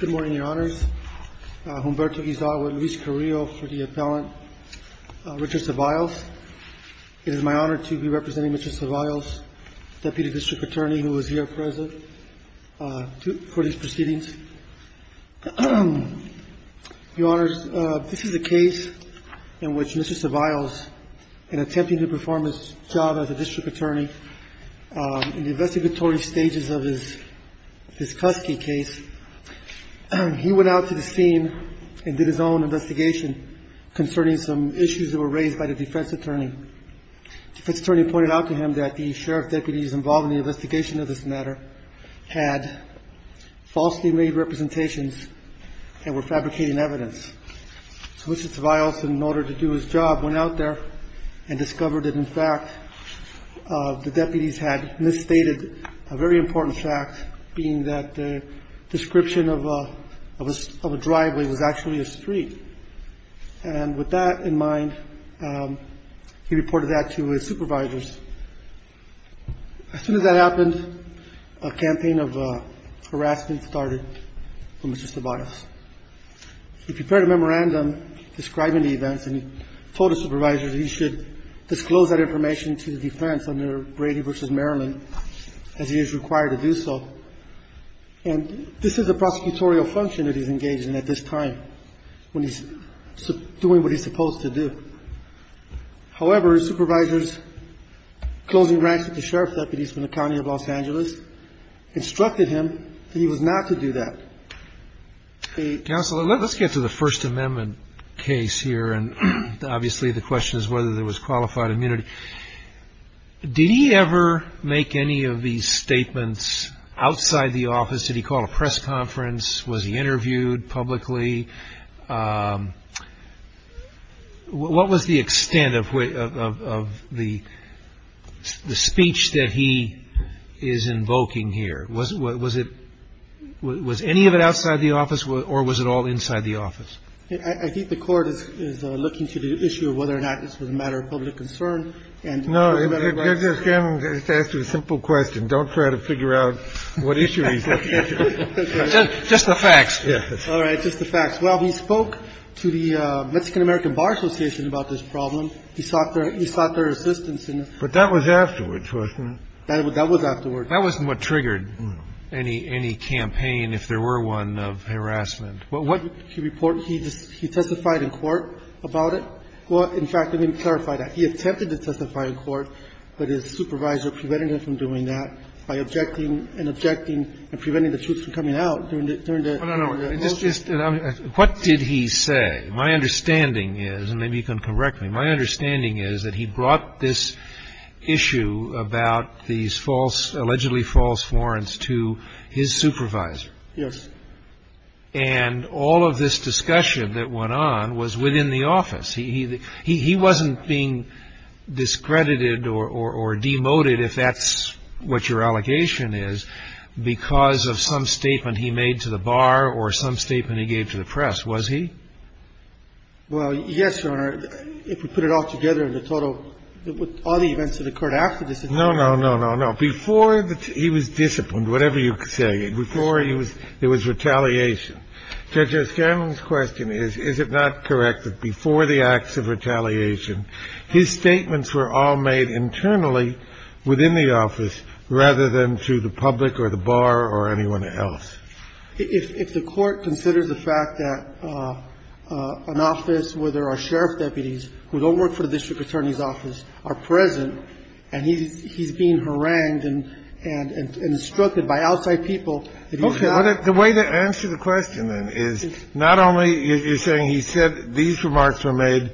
Good morning, Your Honors. Humberto Izaga and Luis Carrillo for the appellant, Richard Saviles. It is my honor to be representing Mr. Saviles, Deputy District Attorney, who is here present for these proceedings. Your Honors, this is a case in which Mr. Saviles, in attempting to perform his job as a district attorney, in the investigatory stages of his cusky case, he went out to the scene and did his own investigation concerning some issues that were raised by the defense attorney. The defense attorney pointed out to him that the sheriff deputies involved in the investigation of this matter had falsely made representations and were fabricating evidence. So Mr. Saviles, in order to do his job, went out there and discovered that, in fact, the deputies had misstated a very important fact, being that the description of a driveway was actually a street. And with that in mind, he reported that to his supervisors. As soon as that happened, a campaign of harassment started for Mr. Saviles. He prepared a memorandum describing the events, and he told his supervisors he should disclose that information to the defense under Brady v. Maryland, as he is required to do so. And this is a prosecutorial function that he's engaged in at this time, when he's doing what he's supposed to do. However, his supervisors, closing ranks with the sheriff's deputies from the County of Los Angeles, instructed him that he was not to do that. Counsel, let's get to the First Amendment case here. And obviously the question is whether there was qualified immunity. Did he ever make any of these statements outside the office? Did he call a press conference? Was he interviewed publicly? What was the extent of the speech that he is invoking here? Was it any of it outside the office, or was it all inside the office? I think the Court is looking to the issue of whether or not this was a matter of public concern. No, I'm just asking a simple question. Don't try to figure out what issue he's looking at. Just the facts. All right, just the facts. Well, he spoke to the Mexican-American Bar Association about this problem. He sought their assistance. But that was afterwards, wasn't it? That was afterwards. That wasn't what triggered any campaign, if there were one, of harassment. He testified in court about it. Well, in fact, let me clarify that. He attempted to testify in court, but his supervisor prevented him from doing that by objecting and objecting and preventing the truth from coming out during the motion. Well, no, no. What did he say? My understanding is, and maybe you can correct me, my understanding is that he brought this issue about these false, allegedly false warrants to his supervisor. Yes. And all of this discussion that went on was within the office. He wasn't being discredited or demoted, if that's what your allegation is, because of some statement he made to the bar or some statement he gave to the press, was he? Well, yes, Your Honor. If we put it all together in the total, all the events that occurred after this. No, no, no, no, no. Before he was disciplined, whatever you say, before there was retaliation. Judge Scanlon's question is, is it not correct that before the acts of retaliation, his statements were all made internally within the office rather than to the public or the bar or anyone else? If the Court considers the fact that an office where there are sheriff deputies who don't work for the district attorney's office are present, and he's being harangued and instructed by outside people that he's not. Okay. The way to answer the question, then, is not only you're saying he said these remarks were made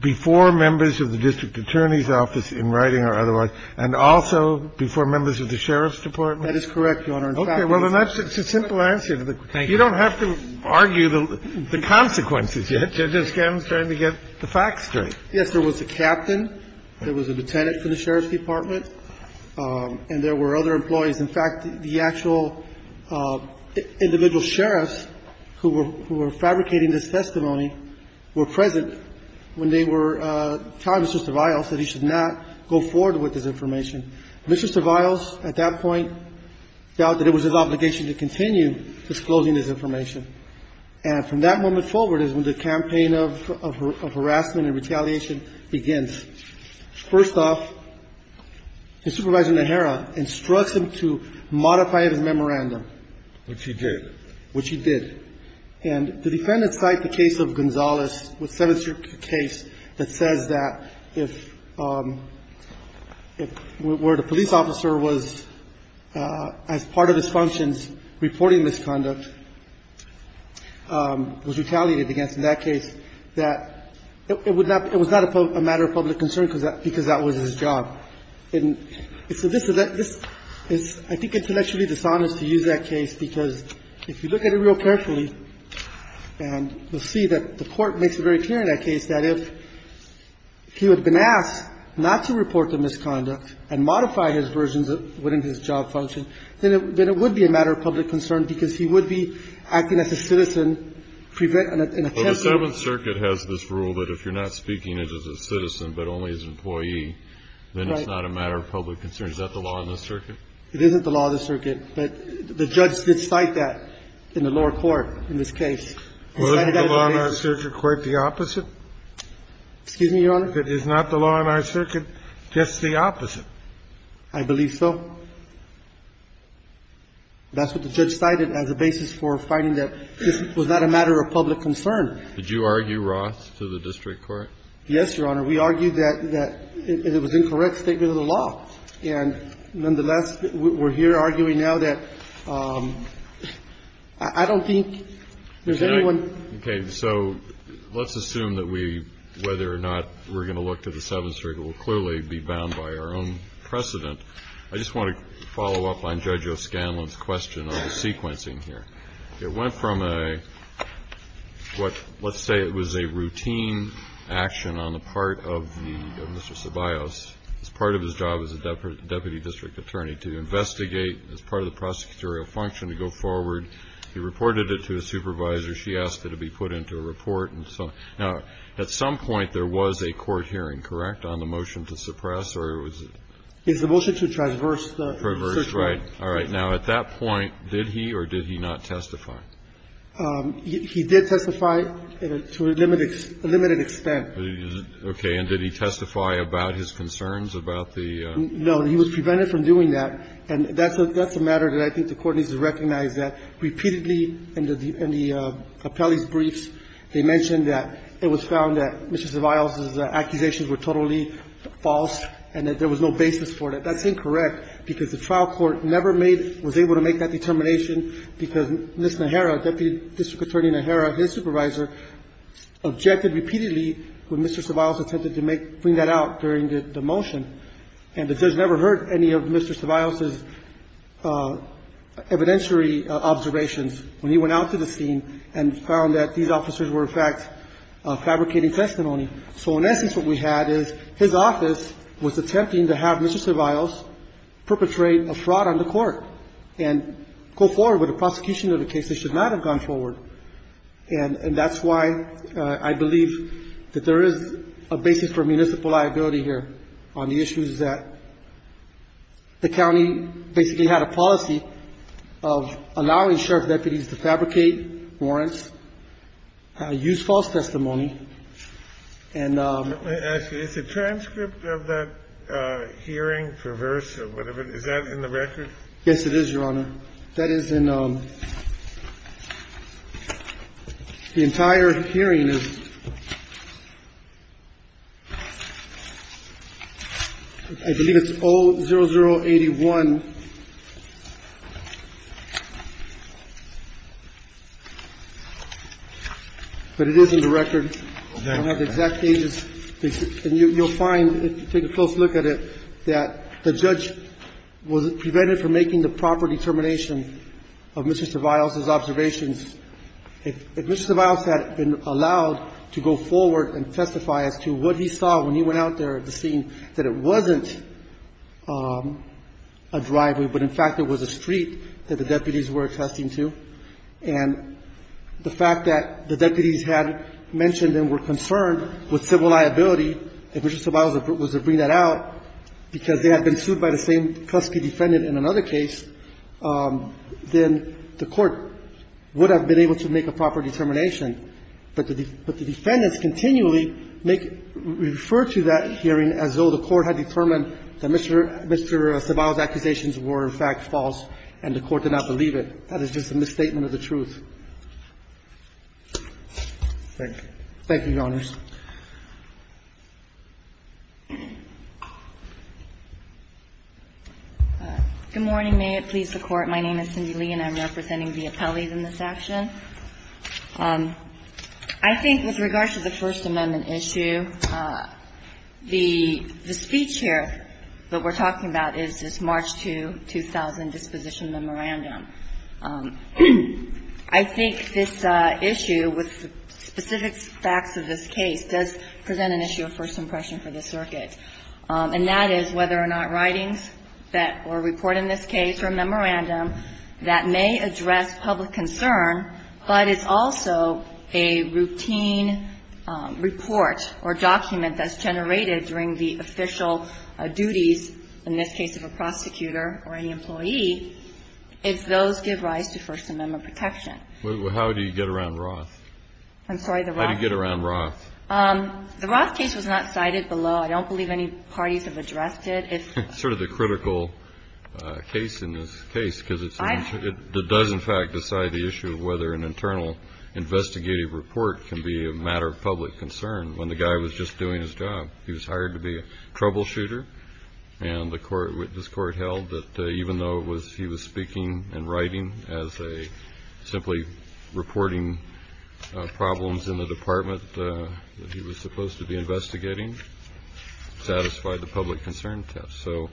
before members of the district attorney's office in writing or otherwise and also before members of the sheriff's department? That is correct, Your Honor. Okay. Well, then that's a simple answer to the question. Thank you. You don't have to argue the consequences yet. Judge Scanlon's trying to get the facts straight. Yes, there was a captain, there was a lieutenant from the sheriff's department, and there were other employees. In fact, the actual individual sheriffs who were fabricating this testimony were present when they were telling Mr. Viles that he should not go forward with this information. Mr. Viles, at that point, felt that it was his obligation to continue disclosing this information. And from that moment forward is when the campaign of harassment and retaliation begins. First off, his supervisor, Najera, instructs him to modify his memorandum. Which he did. Which he did. And the defendants cite the case of Gonzales, the 7th Circuit case, that says that if the police officer was, as part of his functions, reporting misconduct, was retaliated against in that case, that it was not a matter of public concern because that was his job. And so this is, I think, intellectually dishonest to use that case, because if you look at it real carefully, and you'll see that the Court makes it very clear in that case, that if he had been asked not to report the misconduct and modified his versions within his job function, then it would be a matter of public concern because he would be acting as a citizen. Well, the 7th Circuit has this rule that if you're not speaking as a citizen but only as an employee, then it's not a matter of public concern. Is that the law in the circuit? It isn't the law in the circuit, but the judge did cite that in the lower court in this case. Well, isn't the law in our circuit quite the opposite? Excuse me, Your Honor? If it is not the law in our circuit, it's the opposite. I believe so. That's what the judge cited as a basis for finding that this was not a matter of public concern. Did you argue Roth to the district court? Yes, Your Honor. We argued that it was an incorrect statement of the law. And nonetheless, we're here arguing now that I don't think there's anything Okay. So let's assume that we, whether or not we're going to look to the 7th Circuit, will clearly be bound by our own precedent. I just want to follow up on Judge O'Scanlan's question on the sequencing here. It went from a what let's say it was a routine action on the part of Mr. Ceballos as part of his job as a deputy district attorney to investigate as part of the prosecutorial function to go forward. And he reported it to his supervisor. She asked it to be put into a report. Now, at some point, there was a court hearing, correct, on the motion to suppress or was it? It was the motion to traverse the search warrant. Traverse, right. All right. Now, at that point, did he or did he not testify? He did testify to a limited extent. Okay. And did he testify about his concerns about the No, he was prevented from doing that. And that's a matter that I think the Court needs to recognize, that repeatedly in the appellee's briefs, they mentioned that it was found that Mr. Ceballos' accusations were totally false and that there was no basis for that. That's incorrect, because the trial court never made, was able to make that determination because Ms. Najera, Deputy District Attorney Najera, his supervisor, objected repeatedly when Mr. Ceballos attempted to bring that out during the motion. And it just never hurt any of Mr. Ceballos' evidentiary observations when he went out to the scene and found that these officers were, in fact, fabricating testimony. So in essence, what we had is his office was attempting to have Mr. Ceballos perpetrate a fraud on the Court and go forward with a prosecution of a case that should not have gone forward. And that's why I believe that there is a basis for municipal liability here on the issue is that the county basically had a policy of allowing sheriff deputies to fabricate warrants, use false testimony, and the ---- Let me ask you. Is the transcript of that hearing perverse or whatever? Is that in the record? Yes, it is, Your Honor. That is in the entire hearing. I believe it's O0081. But it is in the record. I don't have the exact pages. And you'll find, if you take a close look at it, that the judge was prevented from making the proper determination of Mr. Ceballos' observations. If Mr. Ceballos had been allowed to go forward and testify as to what he saw when he went out there at the scene, that it wasn't a driveway, but, in fact, it was a street that the deputies were attesting to, and the fact that the deputies had mentioned and were concerned with civil liability, if Mr. Ceballos was to bring that out, because they had been sued by the same Tuskegee defendant in another case, then the Court would have been able to make a proper determination. But the defendants continually make ---- refer to that hearing as though the Court had determined that Mr. Ceballos' accusations were, in fact, false, and the Court did not believe it. That is just a misstatement of the truth. Thank you, Your Honors. Good morning. May it please the Court. My name is Cindy Lee, and I'm representing the appellees in this action. I think with regard to the First Amendment issue, the speech here that we're talking about is this March 2, 2000 disposition memorandum. I think this issue, with the specific facts of this case, does present an issue of first impression for the circuit, and that is whether or not writings that were reported in this case or memorandum that may address public concern, but is also a routine report or document that's generated during the official duties, in this case of a prosecutor or any employee, if those give rise to First Amendment protection. Well, how do you get around Roth? I'm sorry, the Roth? How do you get around Roth? The Roth case was not cited below. I don't believe any parties have addressed it. It's sort of the critical case in this case, because it does, in fact, decide the issue of whether an internal investigative report can be a matter of public concern. When the guy was just doing his job, he was hired to be a troubleshooter, and the court, this court held that even though it was, he was speaking and writing as a simply reporting problems in the department that he was supposed to be investigating, satisfied the public concern test. So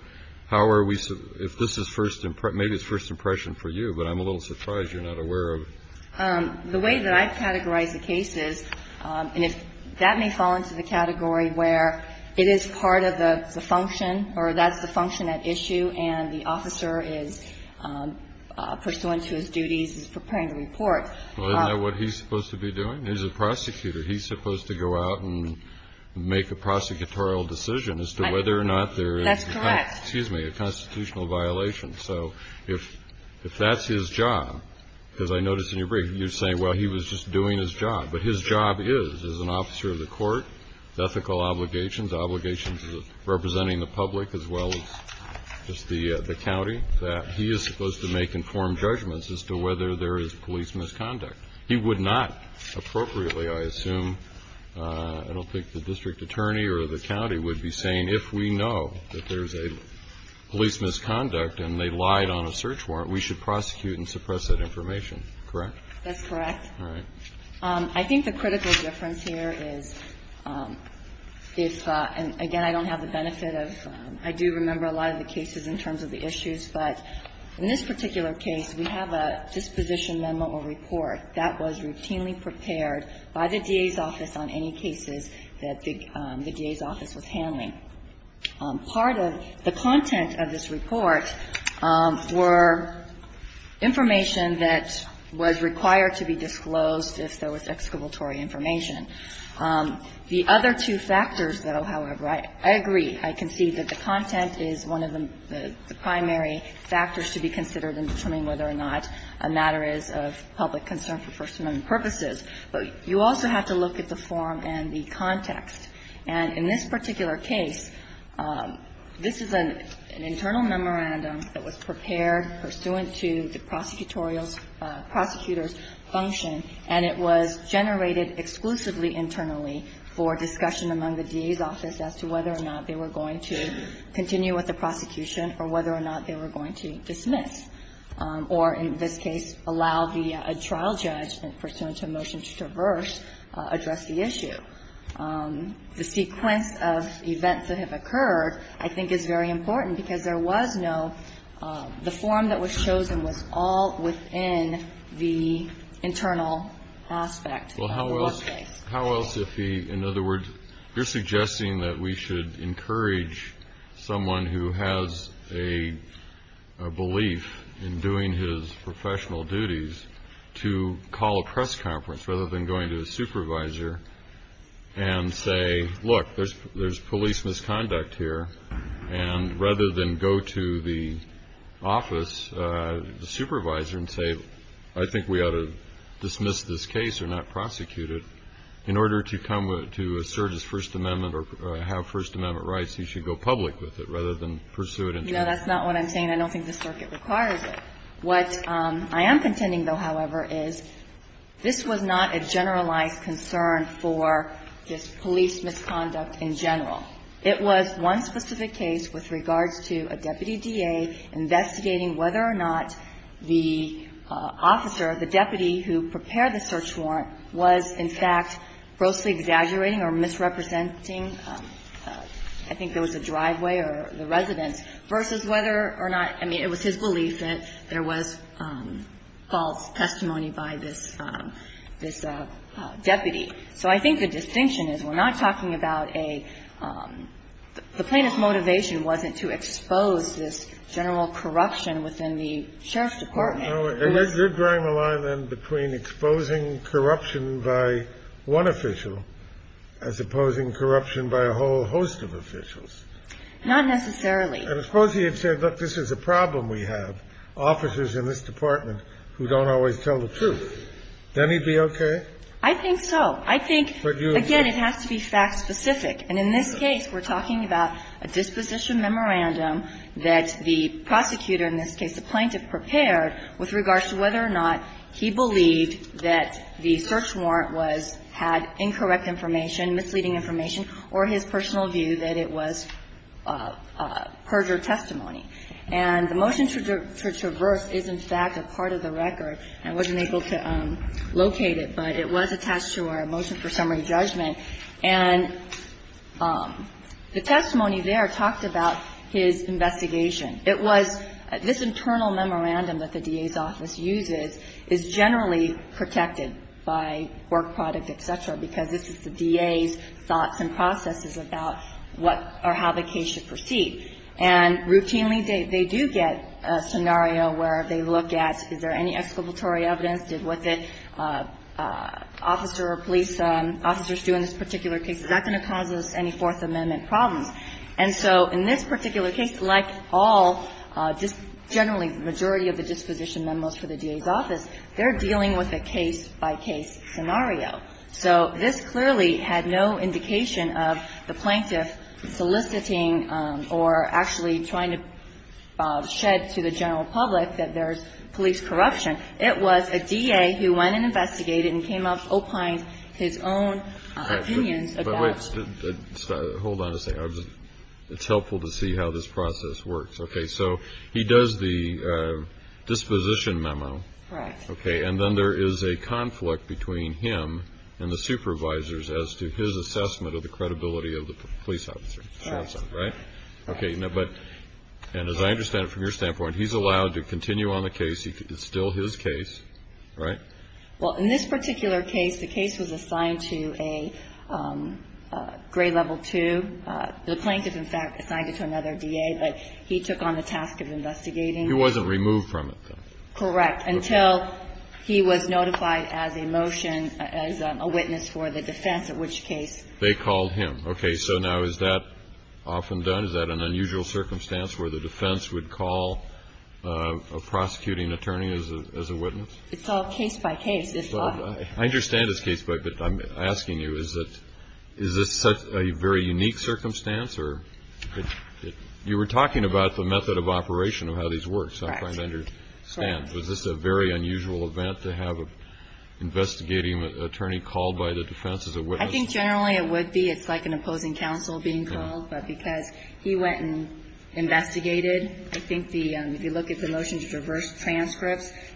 how are we, if this is first, maybe it's first impression for you, but I'm a little surprised you're not aware of it. The way that I categorize the case is, and that may fall into the category where it is part of the function, or that's the function at issue, and the officer is pursuant to his duties, is preparing the report. Well, isn't that what he's supposed to be doing? He's a prosecutor. He's supposed to go out and make a prosecutorial decision as to whether or not there is a constitutional violation. That's correct. So if that's his job, because I noticed in your brief, you're saying, well, he was just doing his job. But his job is, as an officer of the court, ethical obligations, obligations representing the public as well as just the county, that he is supposed to make informed judgments as to whether there is police misconduct. He would not appropriately, I assume, I don't think the district attorney or the county would be saying, if we know that there's a police misconduct and they lied on a search warrant, we should prosecute and suppress that information, correct? That's correct. All right. I think the critical difference here is if, and again, I don't have the benefit of, I do remember a lot of the cases in terms of the issues. But in this particular case, we have a disposition memo or report that was routinely prepared by the DA's office on any cases that the DA's office was handling. Part of the content of this report were information that was required to be disclosed if there was excavatory information. The other two factors, though, however, I agree, I concede that the content is one of the primary factors to be considered in determining whether or not a matter is of public concern for First Amendment purposes. But you also have to look at the form and the context. And in this particular case, this is an internal memorandum that was prepared pursuant to the prosecutorial's, prosecutor's function, and it was generated exclusively internally for discussion among the DA's office as to whether or not they were going to continue with the prosecution or whether or not they were going to dismiss, or in this case, allow a trial judge pursuant to a motion to traverse address the issue. The sequence of events that have occurred, I think, is very important because there was no the form that was chosen was all within the internal aspect. Well, how else if he, in other words, you're suggesting that we should encourage someone who has a belief in doing his professional duties to call a press conference rather than going to a supervisor and say, look, there's police misconduct here. And rather than go to the office, the supervisor, and say, I think we ought to dismiss this case or not prosecute it, in order to come to assert his First Amendment or have First Amendment rights, he should go public with it rather than pursue it internally. No, that's not what I'm saying. I don't think the circuit requires it. What I am contending, though, however, is this was not a generalized concern for this police misconduct in general. It was one specific case with regards to a deputy DA investigating whether or not the officer, the deputy who prepared the search warrant, was, in fact, grossly exaggerating or misrepresenting, I think there was a driveway or the residence, versus whether or not, I mean, it was his belief that there was false testimony by this deputy. So I think the distinction is we're not talking about a – the plaintiff's motivation wasn't to expose this general corruption within the sheriff's department. No. They're drawing the line, then, between exposing corruption by one official as opposing corruption by a whole host of officials. Not necessarily. And I suppose he had said, look, this is a problem we have, officers in this department who don't always tell the truth. Then he'd be okay? I think so. I think, again, it has to be fact-specific. And in this case, we're talking about a disposition memorandum that the prosecutor in this case, the plaintiff, prepared with regards to whether or not he believed that the search warrant was – had incorrect information, misleading information, or his personal view that it was perjured testimony. And the motion to traverse is, in fact, a part of the record. I wasn't able to locate it, but it was attached to our motion for summary judgment. And the testimony there talked about his investigation. It was – this internal memorandum that the DA's office uses is generally protected by work product, et cetera, because this is the DA's thoughts and processes about what or how the case should proceed. And routinely, they do get a scenario where they look at is there any excavatory evidence, did what the officer or police officers do in this particular case, is that going to cause us any Fourth Amendment problems? And so in this particular case, like all, just generally the majority of the disposition memos for the DA's office, they're dealing with a case-by-case scenario. So this clearly had no indication of the plaintiff soliciting or actually trying to shed to the general public that there's police corruption. It was a DA who went and investigated and came up, opined his own opinions about – But wait. Hold on a second. It's helpful to see how this process works. Okay. So he does the disposition memo. Correct. Okay. And then there is a conflict between him and the supervisors as to his assessment of the credibility of the police officer. Correct. Right? Okay. Now, but – and as I understand it from your standpoint, he's allowed to continue on the case. It's still his case. Right? Well, in this particular case, the case was assigned to a grade level two. The plaintiff, in fact, assigned it to another DA, but he took on the task of investigating. He wasn't removed from it, though. Correct. Until he was notified as a motion, as a witness for the defense, at which case – They called him. Okay. So now is that often done? Is that an unusual circumstance where the defense would call a prosecuting attorney as a witness? It's all case-by-case. I understand it's case-by-case, but I'm asking you, is this a very unique circumstance? You were talking about the method of operation of how these work. Correct. So I'm trying to understand. Was this a very unusual event to have an investigating attorney called by the defense as a witness? I think generally it would be. It's like an opposing counsel being called. But because he went and investigated, I think the – if you look at the motions the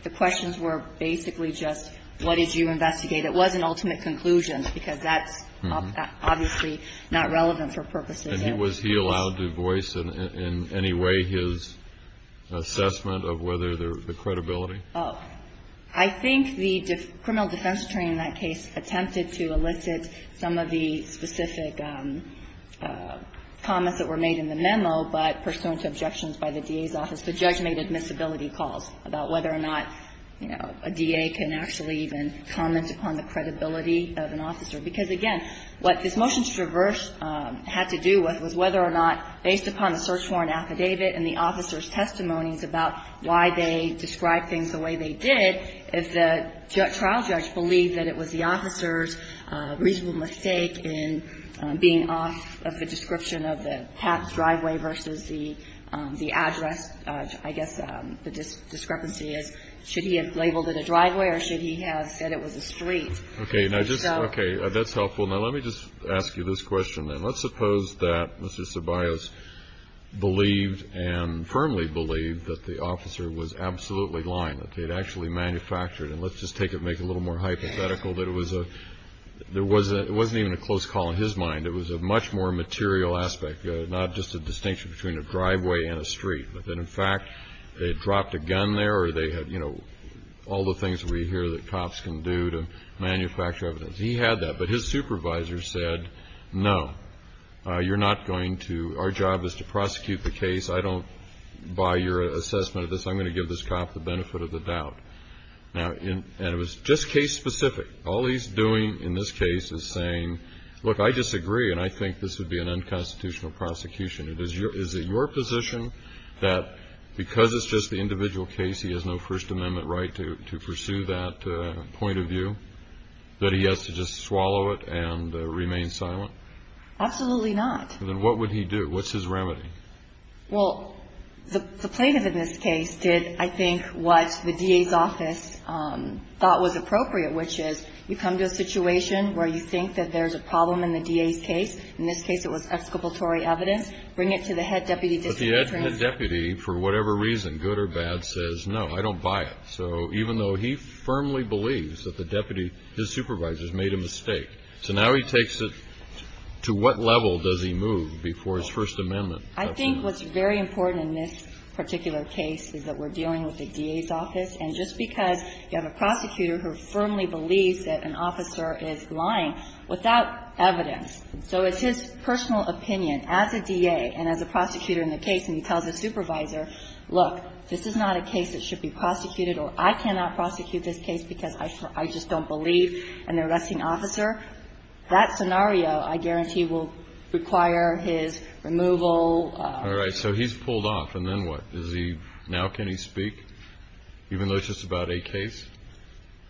questions were basically just, what did you investigate? It wasn't ultimate conclusions because that's obviously not relevant for purposes of the case. And was he allowed to voice in any way his assessment of whether the credibility? I think the criminal defense attorney in that case attempted to elicit some of the specific comments that were made in the memo, but pursuant to objections by the DA's office, the judge made admissibility calls about whether or not, you know, a DA can actually even comment upon the credibility of an officer. Because, again, what this motion to traverse had to do with was whether or not, based upon the search warrant affidavit and the officer's testimonies about why they described things the way they did, if the trial judge believed that it was the officer's reasonable mistake in being off of the description of the path driveway versus the address I guess the discrepancy is, should he have labeled it a driveway or should he have said it was a street? I think so. Okay. Now, just – okay. That's helpful. Now, let me just ask you this question, then. Let's suppose that Mr. Ceballos believed and firmly believed that the officer was absolutely lying, that they had actually manufactured. And let's just take it and make it a little more hypothetical that it was a – there wasn't even a close call in his mind. It was a much more material aspect, not just a distinction between a driveway and a street, but that in fact they had dropped a gun there or they had, you know, all the things we hear that cops can do to manufacture evidence. He had that. But his supervisor said, no, you're not going to – our job is to prosecute the case. I don't buy your assessment of this. I'm going to give this cop the benefit of the doubt. Now, and it was just case-specific. All he's doing in this case is saying, look, I disagree and I think this would be an unconstitutional prosecution. Is it your position that because it's just the individual case, he has no First Amendment right to pursue that point of view, that he has to just swallow it and remain silent? Absolutely not. Then what would he do? What's his remedy? Well, the plaintiff in this case did, I think, what the DA's office thought was appropriate, which is you come to a situation where you think that there's a problem in the DA's case. In this case, it was exculpatory evidence. Bring it to the head deputy district attorney. But the head deputy, for whatever reason, good or bad, says, no, I don't buy it. So even though he firmly believes that the deputy, his supervisor, has made a mistake, so now he takes it to what level does he move before his First Amendment? I think what's very important in this particular case is that we're dealing with the DA's office. And just because you have a prosecutor who firmly believes that an officer is lying without evidence, so it's his personal opinion as a DA and as a prosecutor in the case, and he tells his supervisor, look, this is not a case that should be prosecuted or I cannot prosecute this case because I just don't believe an arresting officer, that scenario I guarantee will require his removal. All right. So he's pulled off. And then what? Is he now can he speak, even though it's just about a case?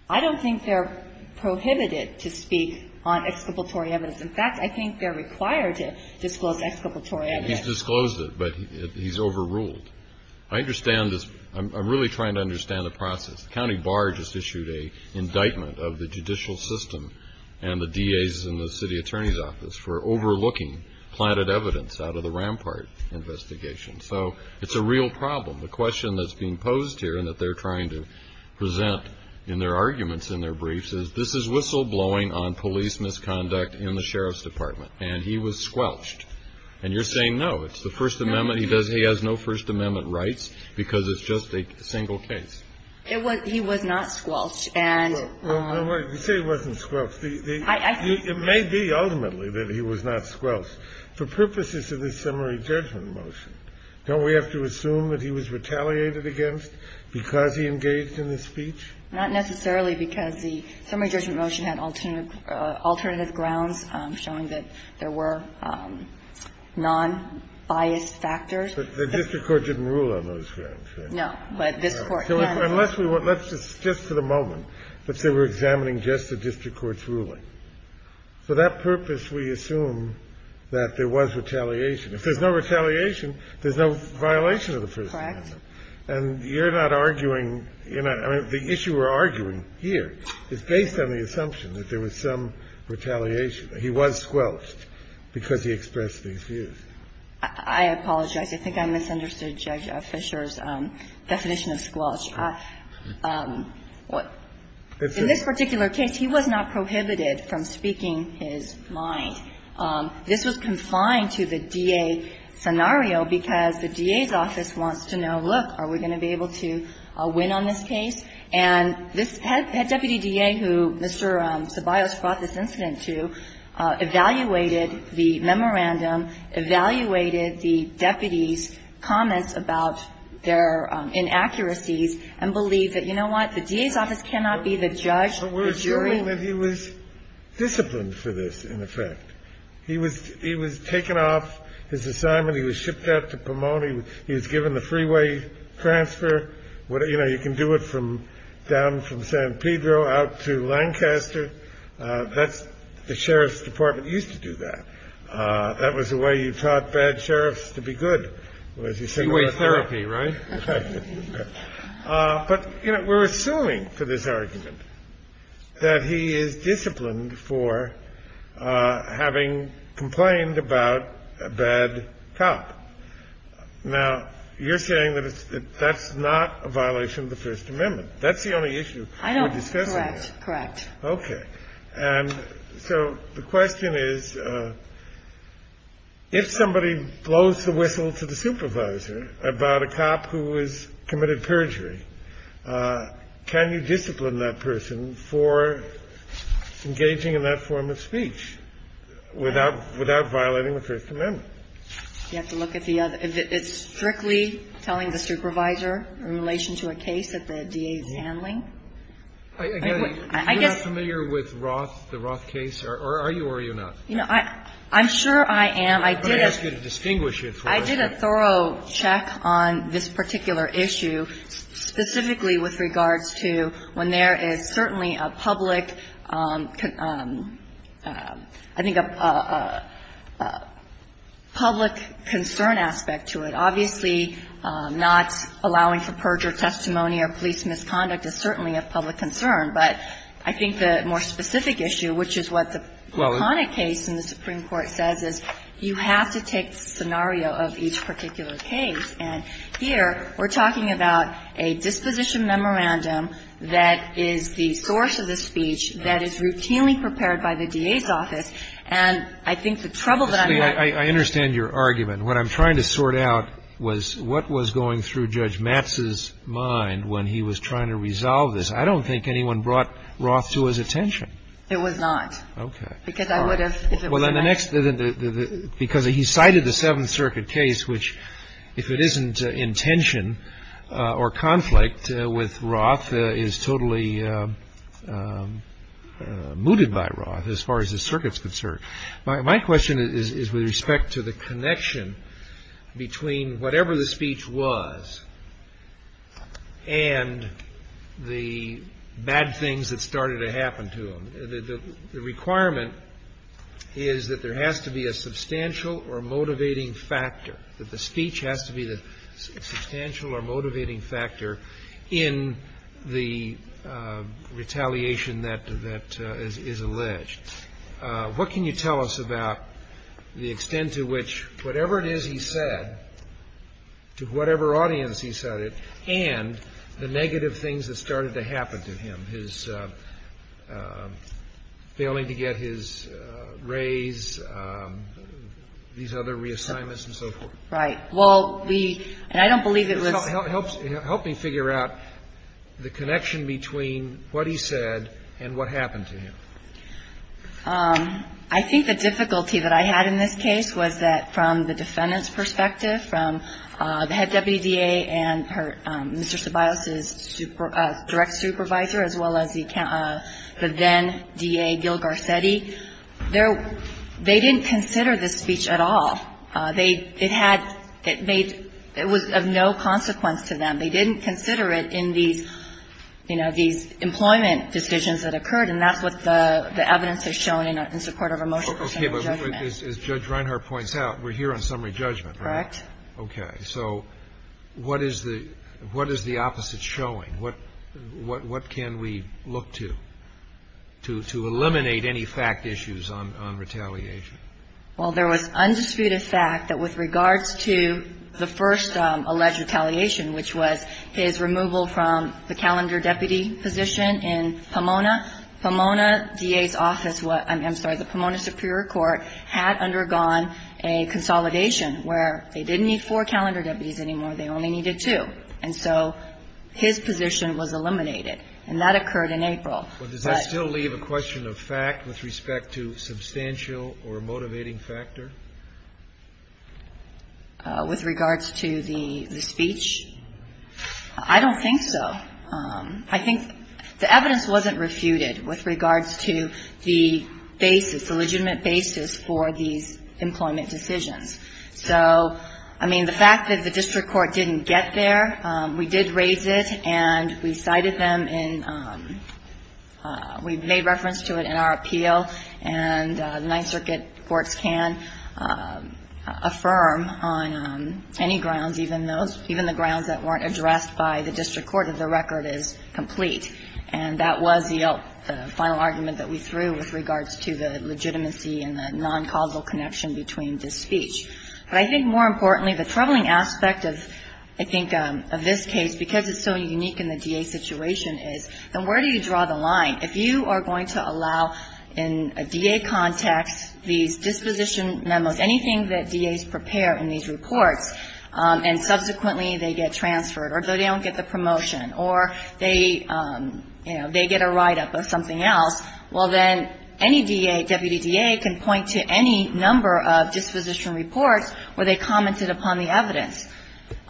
I don't think they're prohibited to speak on exculpatory evidence. In fact, I think they're required to disclose exculpatory evidence. He's disclosed it, but he's overruled. I understand this. I'm really trying to understand the process. The county bar just issued an indictment of the judicial system and the DA's and the city attorney's office for overlooking planted evidence out of the Rampart investigation. So it's a real problem. The question that's being posed here and that they're trying to present in their arguments, in their briefs, is this is whistleblowing on police misconduct in the sheriff's department, and he was squelched. And you're saying no. It's the First Amendment. He has no First Amendment rights because it's just a single case. He was not squelched. You say he wasn't squelched. It may be, ultimately, that he was not squelched. For purposes of the summary judgment motion, don't we have to assume that he was retaliated against because he engaged in the speech? Not necessarily, because the summary judgment motion had alternative grounds showing that there were nonbiased factors. But the district court didn't rule on those grounds, right? No. But this Court can. Unless we want to, let's just for the moment. Let's say we're examining just the district court's ruling. For that purpose, we assume that there was retaliation. If there's no retaliation, there's no violation of the First Amendment. Correct. And you're not arguing, I mean, the issue we're arguing here is based on the assumption that there was some retaliation. He was squelched because he expressed these views. I apologize. I think I misunderstood Judge Fisher's definition of squelch. In this particular case, he was not prohibited from speaking his mind. This was confined to the DA scenario because the DA's office wants to know, look, are we going to be able to win on this case? And this head deputy DA who Mr. Ceballos brought this incident to evaluated the memorandum, evaluated the deputies' comments about their inaccuracies, and believed that, you know what, the DA's office cannot be the judge, the jury. I'm assuming that he was disciplined for this, in effect. He was taken off his assignment. He was shipped out to Pomona. He was given the freeway transfer. You know, you can do it from down from San Pedro out to Lancaster. That's the sheriff's department used to do that. That was the way you taught bad sheriffs to be good. Freeway therapy, right? But, you know, we're assuming for this argument that he is disciplined for having complained about a bad cop. Now, you're saying that that's not a violation of the First Amendment. That's the only issue we're discussing here. Correct. Okay. And so the question is, if somebody blows the whistle to the supervisor about a cop who has committed perjury, can you discipline that person for engaging in that form of speech without violating the First Amendment? You have to look at the other. If it's strictly telling the supervisor in relation to a case that the DA is handling? I guess you're not familiar with Roth, the Roth case? Or are you or are you not? You know, I'm sure I am. I did a thorough check. I did a thorough check on this particular issue, specifically with regards to when there is certainly a public, I think, a public concern aspect to it. Obviously, not allowing for perjury testimony or police misconduct is certainly a public concern. But I think the more specific issue, which is what the iconic case in the Supreme Court is, is that this is a particular case. And here we're talking about a disposition memorandum that is the source of the speech that is routinely prepared by the DA's office. And I think the trouble that I'm having here is that this is a particular case. I understand your argument. What I'm trying to sort out was what was going through Judge Matz's mind when he was trying to resolve this. I don't think anyone brought Roth to his attention. It was not. Okay. Because he cited the Seventh Circuit case, which, if it isn't intention or conflict with Roth, is totally mooted by Roth as far as the circuit's concerned. My question is with respect to the connection between whatever the speech was and the bad things that started to happen to him. The requirement is that there has to be a substantial or motivating factor, that the speech has to be the substantial or motivating factor in the retaliation that is alleged. What can you tell us about the extent to which whatever it is he said, to whatever it is that he said, was the result of failing to get his raise, these other reassignments and so forth? Right. Well, we — and I don't believe it was — Help me figure out the connection between what he said and what happened to him. I think the difficulty that I had in this case was that from the defendant's perspective, from the head WDA and her — Mr. Ceballos's direct supervisor as well as the then D.A. Gil Garcetti, they didn't consider this speech at all. It had — it was of no consequence to them. They didn't consider it in these, you know, these employment decisions that occurred, and that's what the evidence has shown in support of a motion for summary judgment. Okay. But as Judge Reinhart points out, we're here on summary judgment, right? Correct. So what is the opposite showing? What can we look to, to eliminate any fact issues on retaliation? Well, there was undisputed fact that with regards to the first alleged retaliation, which was his removal from the calendar deputy position in Pomona, Pomona D.A.'s office — I'm sorry, the Pomona Superior Court had undergone a consolidation where they didn't need four calendar deputies anymore. They only needed two. And so his position was eliminated. And that occurred in April. But does that still leave a question of fact with respect to substantial or motivating factor? With regards to the speech? I don't think so. I think the evidence wasn't refuted with regards to the basis, the legitimate basis for these employment decisions. So, I mean, the fact that the district court didn't get there, we did raise it and we cited them in — we made reference to it in our appeal, and Ninth Circuit courts can affirm on any grounds, even those — even the grounds that weren't addressed by the district court that the record is complete. And that was the final argument that we threw with regards to the legitimacy and the non-causal connection between this speech. But I think more importantly, the troubling aspect of, I think, of this case, because it's so unique in the D.A. situation, is then where do you draw the line? If you are going to allow in a D.A. context these disposition memos, anything that D.A.s prepare in these reports, and subsequently they get transferred, or they don't get the promotion, or they, you know, they get a write-up of something else, well, then any D.A., deputy D.A., can point to any number of disposition reports where they commented upon the evidence.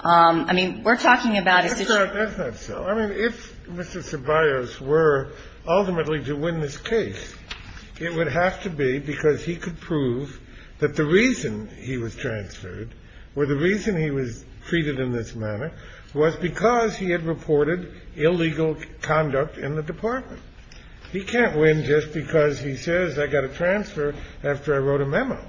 I mean, we're talking about a situation — Kennedy. That's not so. I mean, if Mr. Ceballos were ultimately to win this case, it would have to be because he could prove that the reason he was transferred or the reason he was treated in this manner was because he had reported illegal conduct in the department. He can't win just because he says, I got a transfer after I wrote a memo.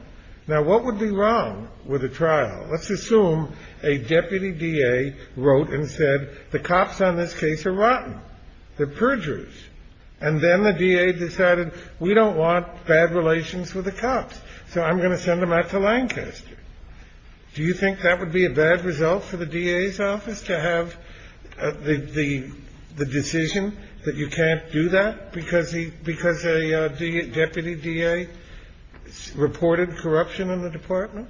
Now, what would be wrong with a trial? Let's assume a deputy D.A. wrote and said, the cops on this case are rotten. They're perjurers. And then the D.A. decided, we don't want bad relations with the cops, so I'm going to send them out to Lancaster. Do you think that would be a bad result for the D.A.'s office, to have the decision that you can't do that because a deputy D.A. reported corruption in the department?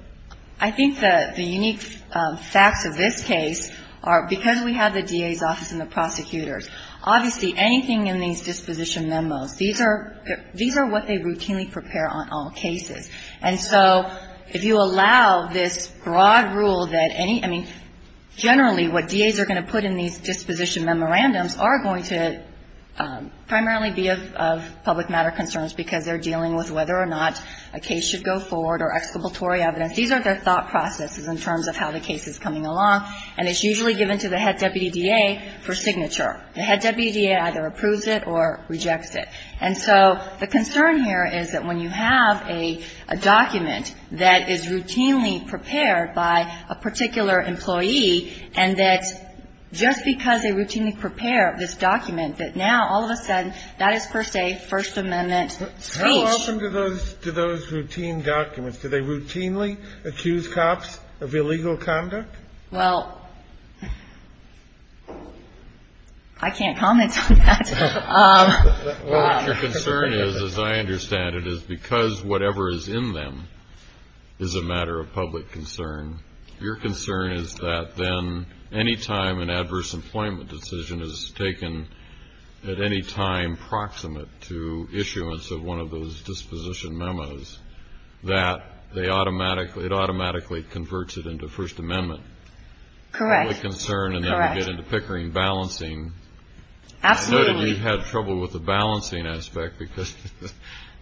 I think the unique facts of this case are, because we have the D.A.'s office and the prosecutors, obviously anything in these disposition memos, these are what they routinely prepare on all cases. And so if you allow this broad rule that any — I mean, generally, what D.A.s are going to put in these disposition memorandums are going to primarily be of public matter concerns because they're dealing with whether or not a case should go forward or exculpatory evidence. These are their thought processes in terms of how the case is coming along, and it's usually given to the head deputy D.A. for signature. The head deputy D.A. either approves it or rejects it. And so the concern here is that when you have a document that is routinely prepared by a particular employee, and that just because they routinely prepare this document, that now all of a sudden that is, per se, First Amendment speech. How often do those routine documents, do they routinely accuse cops of illegal conduct? Well, I can't comment on that. Well, your concern is, as I understand it, is because whatever is in them is a matter of public concern. Your concern is that then any time an adverse employment decision is taken at any time proximate to issuance of one of those disposition memos, that they automatically — it automatically converts it into First Amendment. Correct. That's the concern, and then we get into Pickering balancing. Absolutely. I know that you've had trouble with the balancing aspect because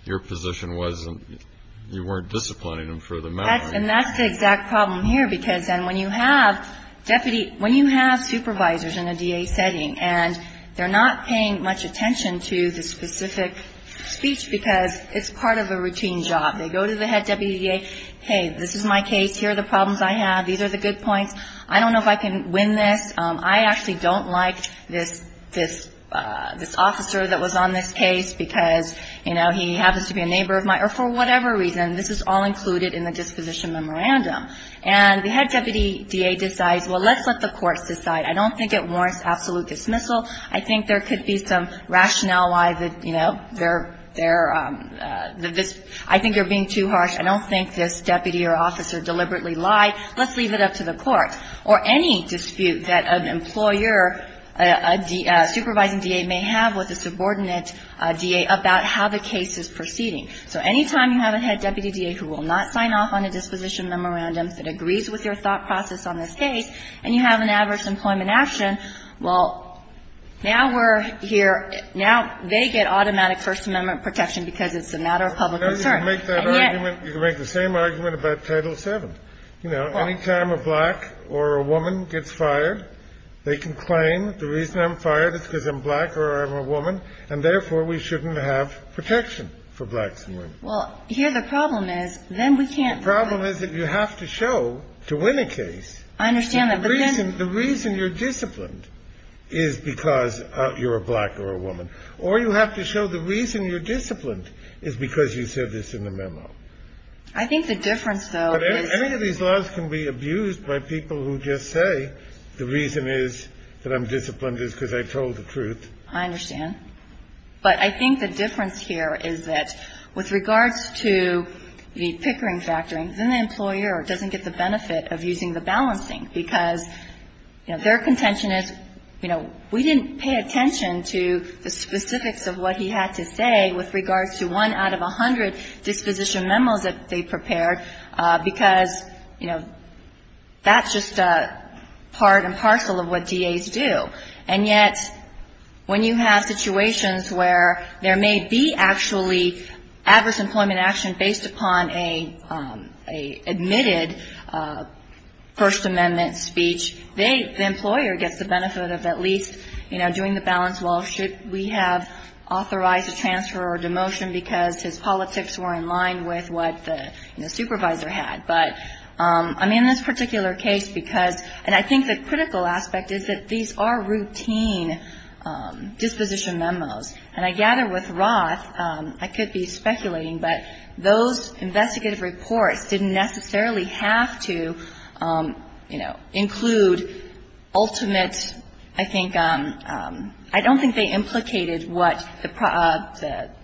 your position wasn't — you weren't disciplining them for the matter. And that's the exact problem here, because then when you have deputy — when you have supervisors in a DA setting, and they're not paying much attention to the specific speech because it's part of a routine job. They go to the head deputy DA, hey, this is my case. Here are the problems I have. These are the good points. I don't know if I can win this. I actually don't like this — this officer that was on this case because, you know, he happens to be a neighbor of mine. Or for whatever reason, this is all included in the disposition memorandum. And the head deputy DA decides, well, let's let the courts decide. I don't think it warrants absolute dismissal. I think there could be some rationale why that, you know, they're — they're — that this — I think they're being too harsh. I don't think this deputy or officer deliberately lied. Let's leave it up to the court. Or any dispute that an employer, a supervising DA, may have with a subordinate DA about how the case is proceeding. So any time you have a head deputy DA who will not sign off on a disposition memorandum that agrees with your thought process on this case, and you have an adverse employment action, well, now we're here — now they get automatic First Amendment protection because it's a matter of public concern. And yet — You know, you can make that argument. You can make the same argument about Title VII. You know, any time a black or a woman gets fired, they can claim the reason I'm fired is because I'm black or I'm a woman, and therefore we shouldn't have protection for blacks and women. Well, here the problem is, then we can't — The problem is that you have to show, to win a case — I understand that, but then — The reason — the reason you're disciplined is because you're a black or a woman. Or you have to show the reason you're disciplined is because you said this in the memo. I think the difference, though, is — But any of these laws can be abused by people who just say the reason is that I'm disciplined is because I told the truth. I understand. But I think the difference here is that with regards to the pickering factoring, then the employer doesn't get the benefit of using the balancing because, you know, their contention is, you know, we didn't pay attention to the specifics of what he had to say with regards to one out of a hundred disposition memos that they prepared because, you know, that's just a part and parcel of what DAs do. And yet, when you have situations where there may be actually adverse employment action based upon a admitted First Amendment speech, the employer gets the benefit of at least, you know, doing the balance well, should we have authorized a transfer or demotion because his politics were in line with what the supervisor had. But, I mean, in this particular case, because — these are routine disposition memos. And I gather with Roth, I could be speculating, but those investigative reports didn't necessarily have to, you know, include ultimate, I think — I don't think they implicated what the —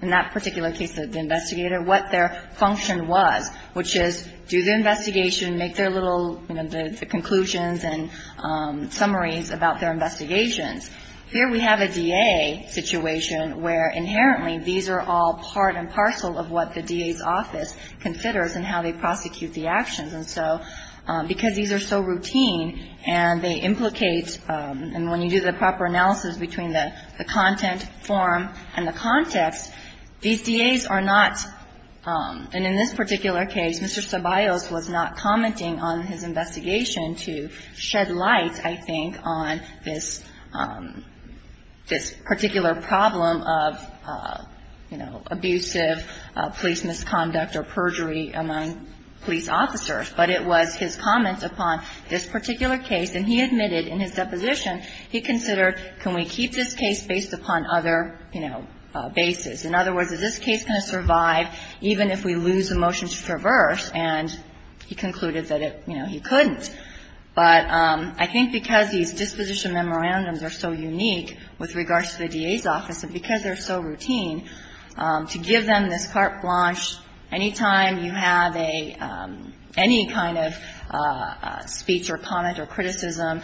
in that particular case, the investigator, what their function was, which is do the investigation, make their little, you know, the conclusions and summaries about their investigations. Here we have a DA situation where inherently these are all part and parcel of what the DA's office considers and how they prosecute the actions. And so because these are so routine and they implicate — and when you do the proper analysis between the content form and the context, these DAs are not — and in this particular case, Mr. Ceballos was not commenting on his investigation to shed light, I think, on this — this particular problem of, you know, abusive police misconduct or perjury among police officers. But it was his comments upon this particular case. And he admitted in his deposition, he considered, can we keep this case based upon other, you know, bases? In other words, is this case going to survive even if we lose a motion to traverse? And he concluded that it — you know, he couldn't. But I think because these disposition memorandums are so unique with regards to the DA's office and because they're so routine, to give them this carte blanche any time you have a — any kind of speech or comment or criticism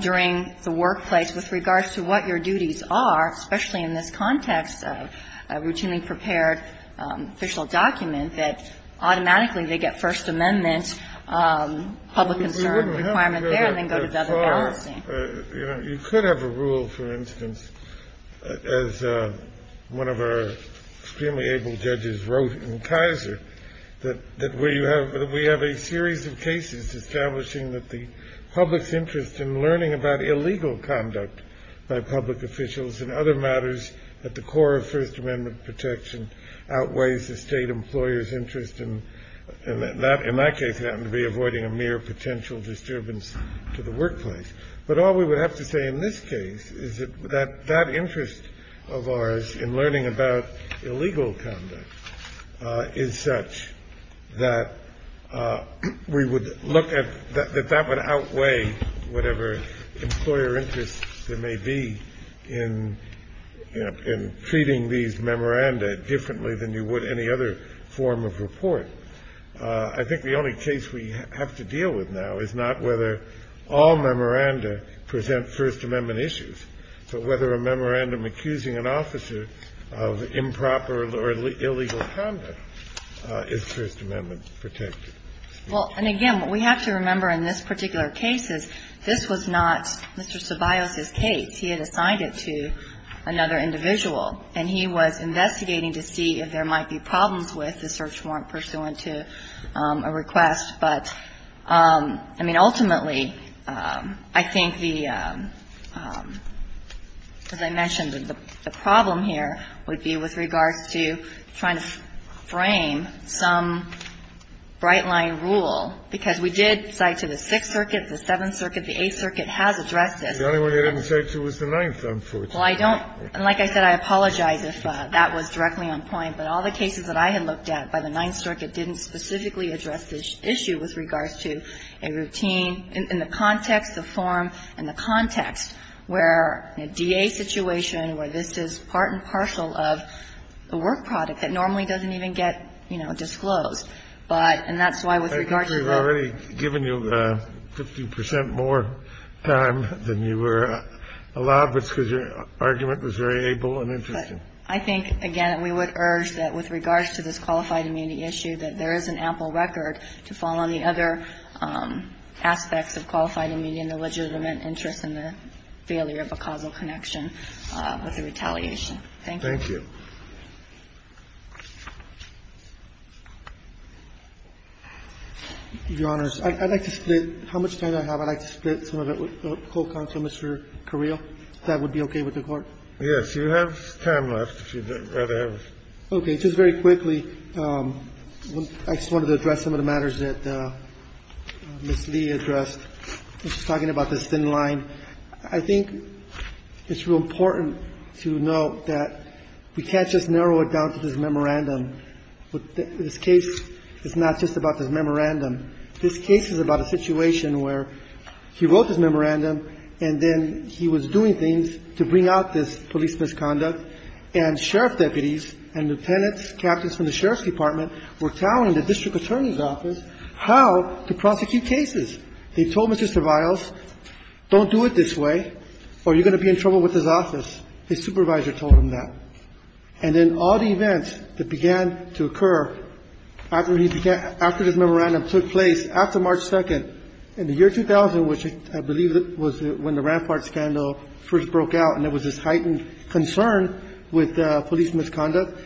during the workplace with regards to what your duties are, especially in this context of a routinely prepared official document, that automatically they get First Amendment public concern requirement there and then go to the other balancing. You know, you could have a rule, for instance, as one of our extremely able judges wrote in Kaiser, that where you have — that we have a series of cases establishing that the public's interest in learning about illegal conduct by public officials and other matters at the core of First Amendment protection outweighs the state employer's interest in that. In that case, it happened to be avoiding a mere potential disturbance to the workplace. But all we would have to say in this case is that that interest of ours in learning about illegal conduct is such that we would look at — that that would outweigh whatever employer interest there may be in, you know, in treating these memoranda differently than you would any other form of report. I think the only case we have to deal with now is not whether all memoranda present First Amendment issues, but whether a memorandum accusing an officer of improper or illegal conduct is First Amendment protected. Well, and again, what we have to remember in this particular case is this was not Mr. Ceballos's case. He had assigned it to another individual, and he was investigating to see if there might be problems with the search warrant pursuant to a request. But, I mean, ultimately, I think the — as I mentioned, the problem here would be with regards to trying to frame some bright-line rule, because we did cite to the Sixth Circuit, the Seventh Circuit, the Eighth Circuit has addressed this. The only one they didn't cite to was the Ninth, unfortunately. Well, I don't — and like I said, I apologize if that was directly on point. But all the cases that I had looked at by the Ninth Circuit didn't specifically address this issue with regards to a routine in the context, the form, and the context where in a DA situation where this is part and partial of a work product that normally doesn't even get, you know, disclosed. But — and that's why with regards to the — Kennedy, I think we've already given you 50 percent more time than you were allowed, because your argument was very able and interesting. I think, again, we would urge that with regards to this qualified immunity issue that there is an ample record to fall on the other aspects of qualified immunity and the legitimate interest in the failure of a causal connection with the retaliation. Thank you. Thank you. Your Honors, I'd like to split — how much time do I have? I'd like to split some of it with the Co-Counsel, Mr. Carrillo. If that would be okay with the Court. Yes, you have time left, if you'd rather have it. Okay. Just very quickly, I just wanted to address some of the matters that Ms. Lee addressed when she was talking about this thin line. I think it's real important to note that we can't just narrow it down to this memorandum. This case is not just about this memorandum. This case is about a situation where he wrote this memorandum and then he was doing things to bring out this police misconduct. And sheriff deputies and lieutenants, captains from the sheriff's department were telling the district attorney's office how to prosecute cases. They told Mr. Viles, don't do it this way or you're going to be in trouble with his office. His supervisor told him that. And then all the events that began to occur after he began — after this memorandum took place, after March 2nd, in the year 2000, which I believe was when the Rampart scandal first broke out and there was this heightened concern with police misconduct,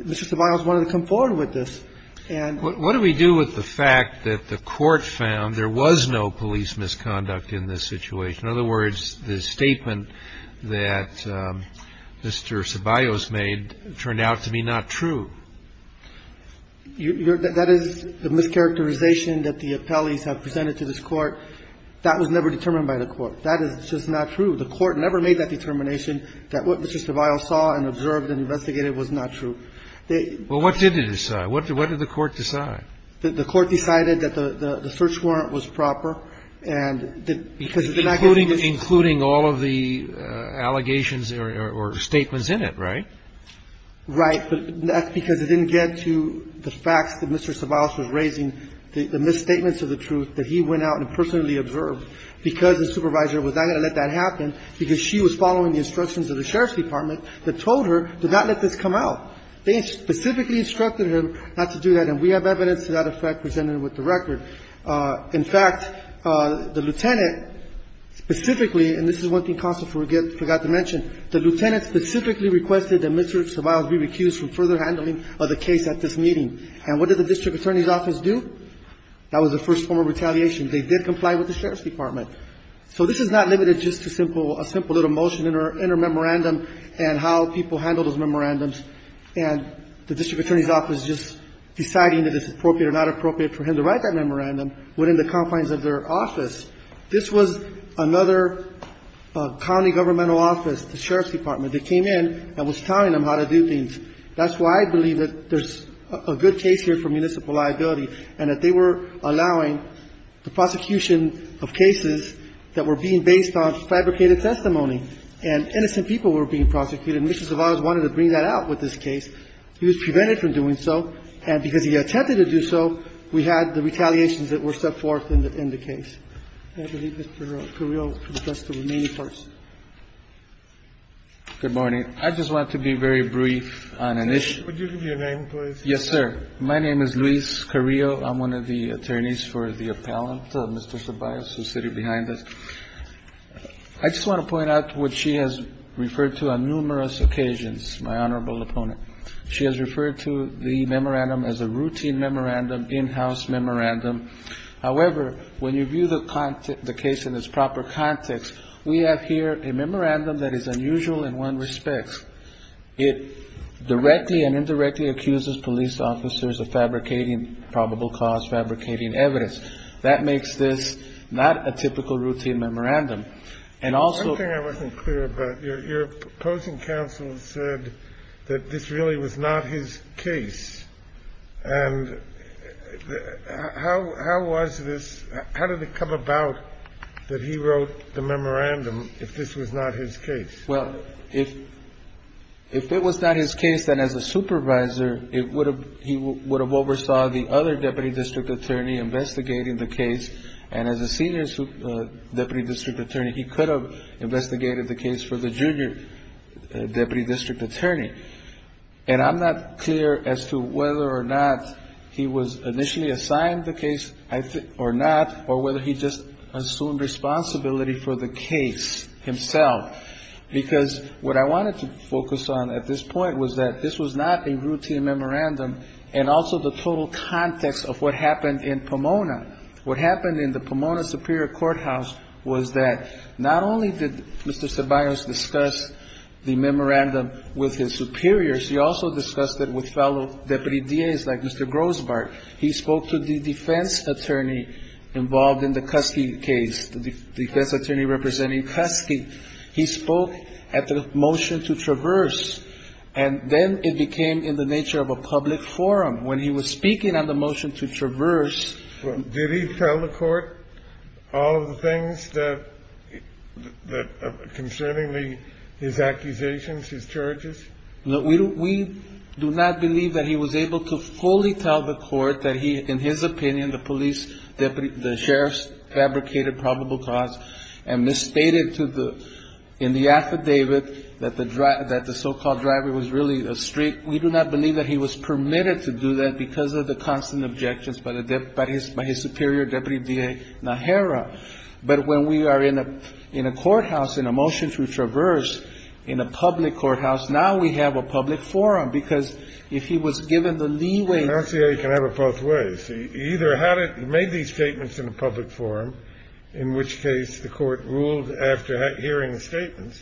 Mr. Ceballos wanted to come forward with this and — What do we do with the fact that the Court found there was no police misconduct in this situation? In other words, the statement that Mr. Ceballos made turned out to be not true. That is the mischaracterization that the appellees have presented to this Court. That was never determined by the Court. That is just not true. The Court never made that determination that what Mr. Ceballos saw and observed and investigated was not true. They — Well, what did it decide? What did the Court decide? The Court decided that the search warrant was proper and that — Including all of the allegations or statements in it, right? Right. But that's because it didn't get to the facts that Mr. Ceballos was raising, the misstatements of the truth that he went out and personally observed, because the supervisor was not going to let that happen, because she was following the instructions of the sheriff's department that told her to not let this come out. They specifically instructed him not to do that, and we have evidence to that effect presented with the record. In fact, the lieutenant specifically — and this is one thing Counsel forgot to mention — the lieutenant specifically requested that Mr. Ceballos be recused from further handling of the case at this meeting. And what did the district attorney's office do? That was the first form of retaliation. They did comply with the sheriff's department. So this is not limited just to a simple little motion in her memorandum and how people handle those memorandums, and the district attorney's office just deciding that it's appropriate or not appropriate for him to write that memorandum within the confines of their office. This was another county governmental office, the sheriff's department. They came in and was telling them how to do things. That's why I believe that there's a good case here for municipal liability and that they were allowing the prosecution of cases that were being based on fabricated testimony and innocent people were being prosecuted. And Mr. Ceballos wanted to bring that out with this case. He was prevented from doing so, and because he attempted to do so, we had the retaliations that were set forth in the case. I believe Mr. Carrillo can address the remaining parts. Good morning. I just want to be very brief on an issue. Would you give your name, please? Yes, sir. My name is Luis Carrillo. I'm one of the attorneys for the appellant, Mr. Ceballos, who's sitting behind us. I just want to point out what she has referred to on numerous occasions, my honorable opponent. She has referred to the memorandum as a routine memorandum, in-house memorandum. However, when you view the case in its proper context, we have here a memorandum that is unusual in one respect. It directly and indirectly accuses police officers of fabricating probable cause, fabricating evidence. That makes this not a typical routine memorandum. And also ---- One thing I wasn't clear about. Your opposing counsel said that this really was not his case. And how was this, how did it come about that he wrote the memorandum if this was not his case? Well, if it was not his case, then as a supervisor, he would have oversaw the other deputy district attorney investigating the case. And as a senior deputy district attorney, he could have investigated the case for the junior deputy district attorney. And I'm not clear as to whether or not he was initially assigned the case or not, or whether he just assumed responsibility for the case himself. Because what I wanted to focus on at this point was that this was not a routine memorandum, and also the total context of what happened in Pomona. What happened in the Pomona Superior Courthouse was that not only did Mr. Ceballos discuss the memorandum with his superiors, he also discussed it with fellow deputy DAs like Mr. Grossbart. He spoke to the defense attorney involved in the Kuski case, the defense attorney representing Kuski. He spoke at the motion to traverse. And then it became in the nature of a public forum. When he was speaking on the motion to traverse ---- No, we do not believe that he was able to fully tell the court that he, in his opinion, the police deputy, the sheriff's fabricated probable cause and misstated in the affidavit that the so-called driver was really a street. We do not believe that he was permitted to do that because of the constant objections by his superior deputy DA Najera. But when we are in a courthouse, in a motion to traverse, in a public courthouse, now we have a public forum. Because if he was given the leeway ---- I don't see how you can have it both ways. He either had it, made these statements in a public forum, in which case the court ruled after hearing the statements,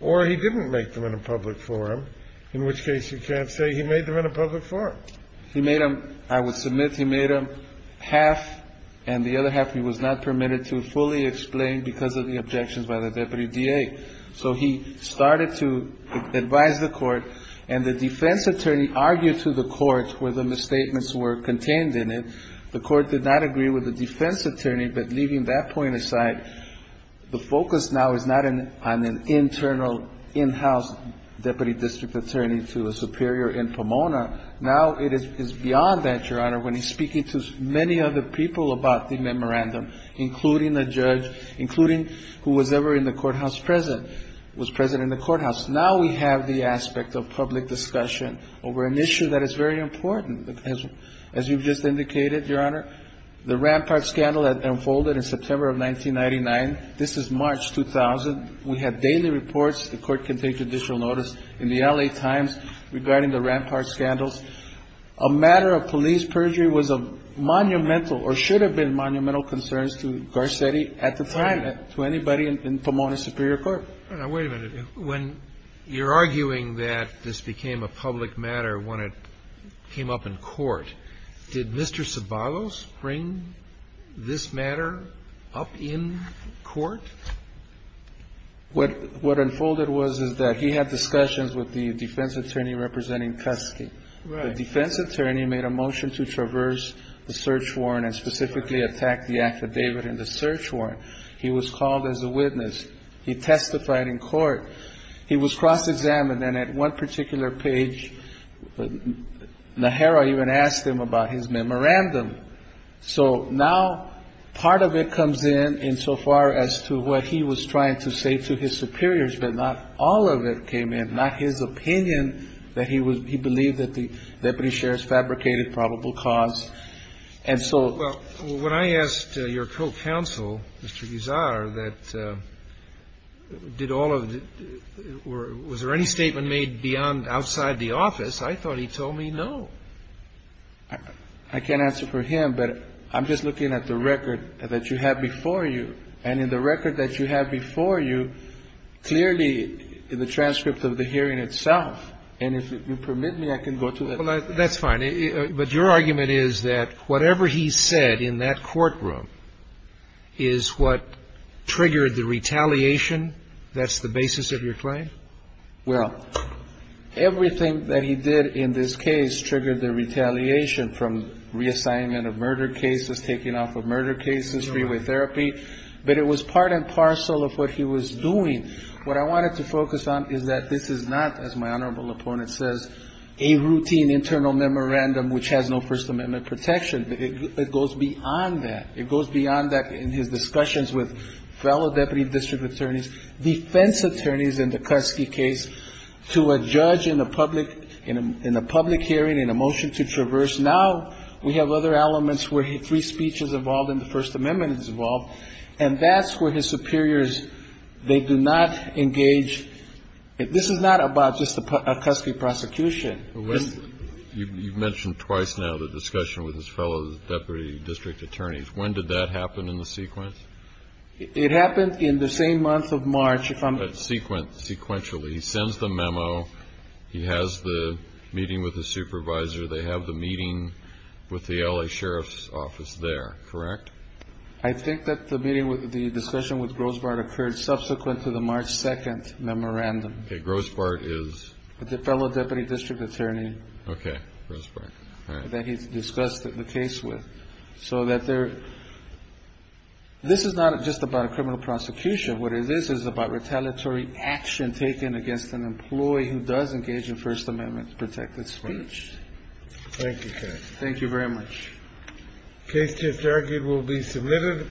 or he didn't make them in a public forum, in which case you can't say he made them in a public forum. He made them, I would submit he made them half, and the other half he was not permitted to fully explain because of the objections by the deputy DA. So he started to advise the court, and the defense attorney argued to the court where the misstatements were contained in it. The court did not agree with the defense attorney, but leaving that point aside, the focus now is not on an internal, in-house deputy district attorney to a superior in Pomona. Now it is beyond that, Your Honor, when he's speaking to many other people about the memorandum, including the judge, including whoever was ever in the courthouse present, was present in the courthouse. Now we have the aspect of public discussion over an issue that is very important. As you've just indicated, Your Honor, the Rampart scandal that unfolded in September of 1999. This is March 2000. We have daily reports. The court can take additional notice in the L.A. Times regarding the Rampart scandals. A matter of police perjury was a monumental or should have been monumental concerns to Garcetti at the time, to anybody in Pomona's superior court. Now, wait a minute. When you're arguing that this became a public matter when it came up in court, did Mr. Ceballos bring this matter up in court? What unfolded was that he had discussions with the defense attorney representing Kesky. The defense attorney made a motion to traverse the search warrant and specifically attack the affidavit in the search warrant. He was called as a witness. He testified in court. He was cross-examined. And at one particular page, Najera even asked him about his memorandum. So now part of it comes in insofar as to what he was trying to say to his superiors. But not all of it came in. Not his opinion that he was he believed that the deputy sheriff's fabricated probable cause. And so. Well, when I asked your co-counsel, Mr. Guzar, that did all of it, was there any statement made beyond outside the office? I thought he told me no. I can't answer for him, but I'm just looking at the record that you have before you. And in the record that you have before you, clearly in the transcript of the hearing itself. And if you permit me, I can go to it. That's fine. But your argument is that whatever he said in that courtroom is what triggered the retaliation. That's the basis of your claim. Well, everything that he did in this case triggered the retaliation from reassignment of murder cases, taking off of murder cases, freeway therapy. But it was part and parcel of what he was doing. What I wanted to focus on is that this is not, as my honorable opponent says, a routine internal memorandum which has no First Amendment protection. It goes beyond that. It goes beyond that in his discussions with fellow deputy district attorneys, defense attorneys in the Kutsky case, to a judge in a public hearing, in a motion to traverse. Now we have other elements where free speech is involved and the First Amendment is involved, and that's where his superiors, they do not engage. This is not about just a Kutsky prosecution. You've mentioned twice now the discussion with his fellow deputy district attorneys. When did that happen in the sequence? It happened in the same month of March. Sequentially. He sends the memo. He has the meeting with his supervisor. They have the meeting with the L.A. Sheriff's Office there, correct? I think that the meeting with the discussion with Grossbart occurred subsequent to the March 2nd memorandum. Okay. Grossbart is? The fellow deputy district attorney. Okay. Grossbart. That he discussed the case with. So that there this is not just about a criminal prosecution. What it is, is about retaliatory action taken against an employee who does engage in First Amendment protected speech. Thank you. Thank you very much. The case just argued will be submitted.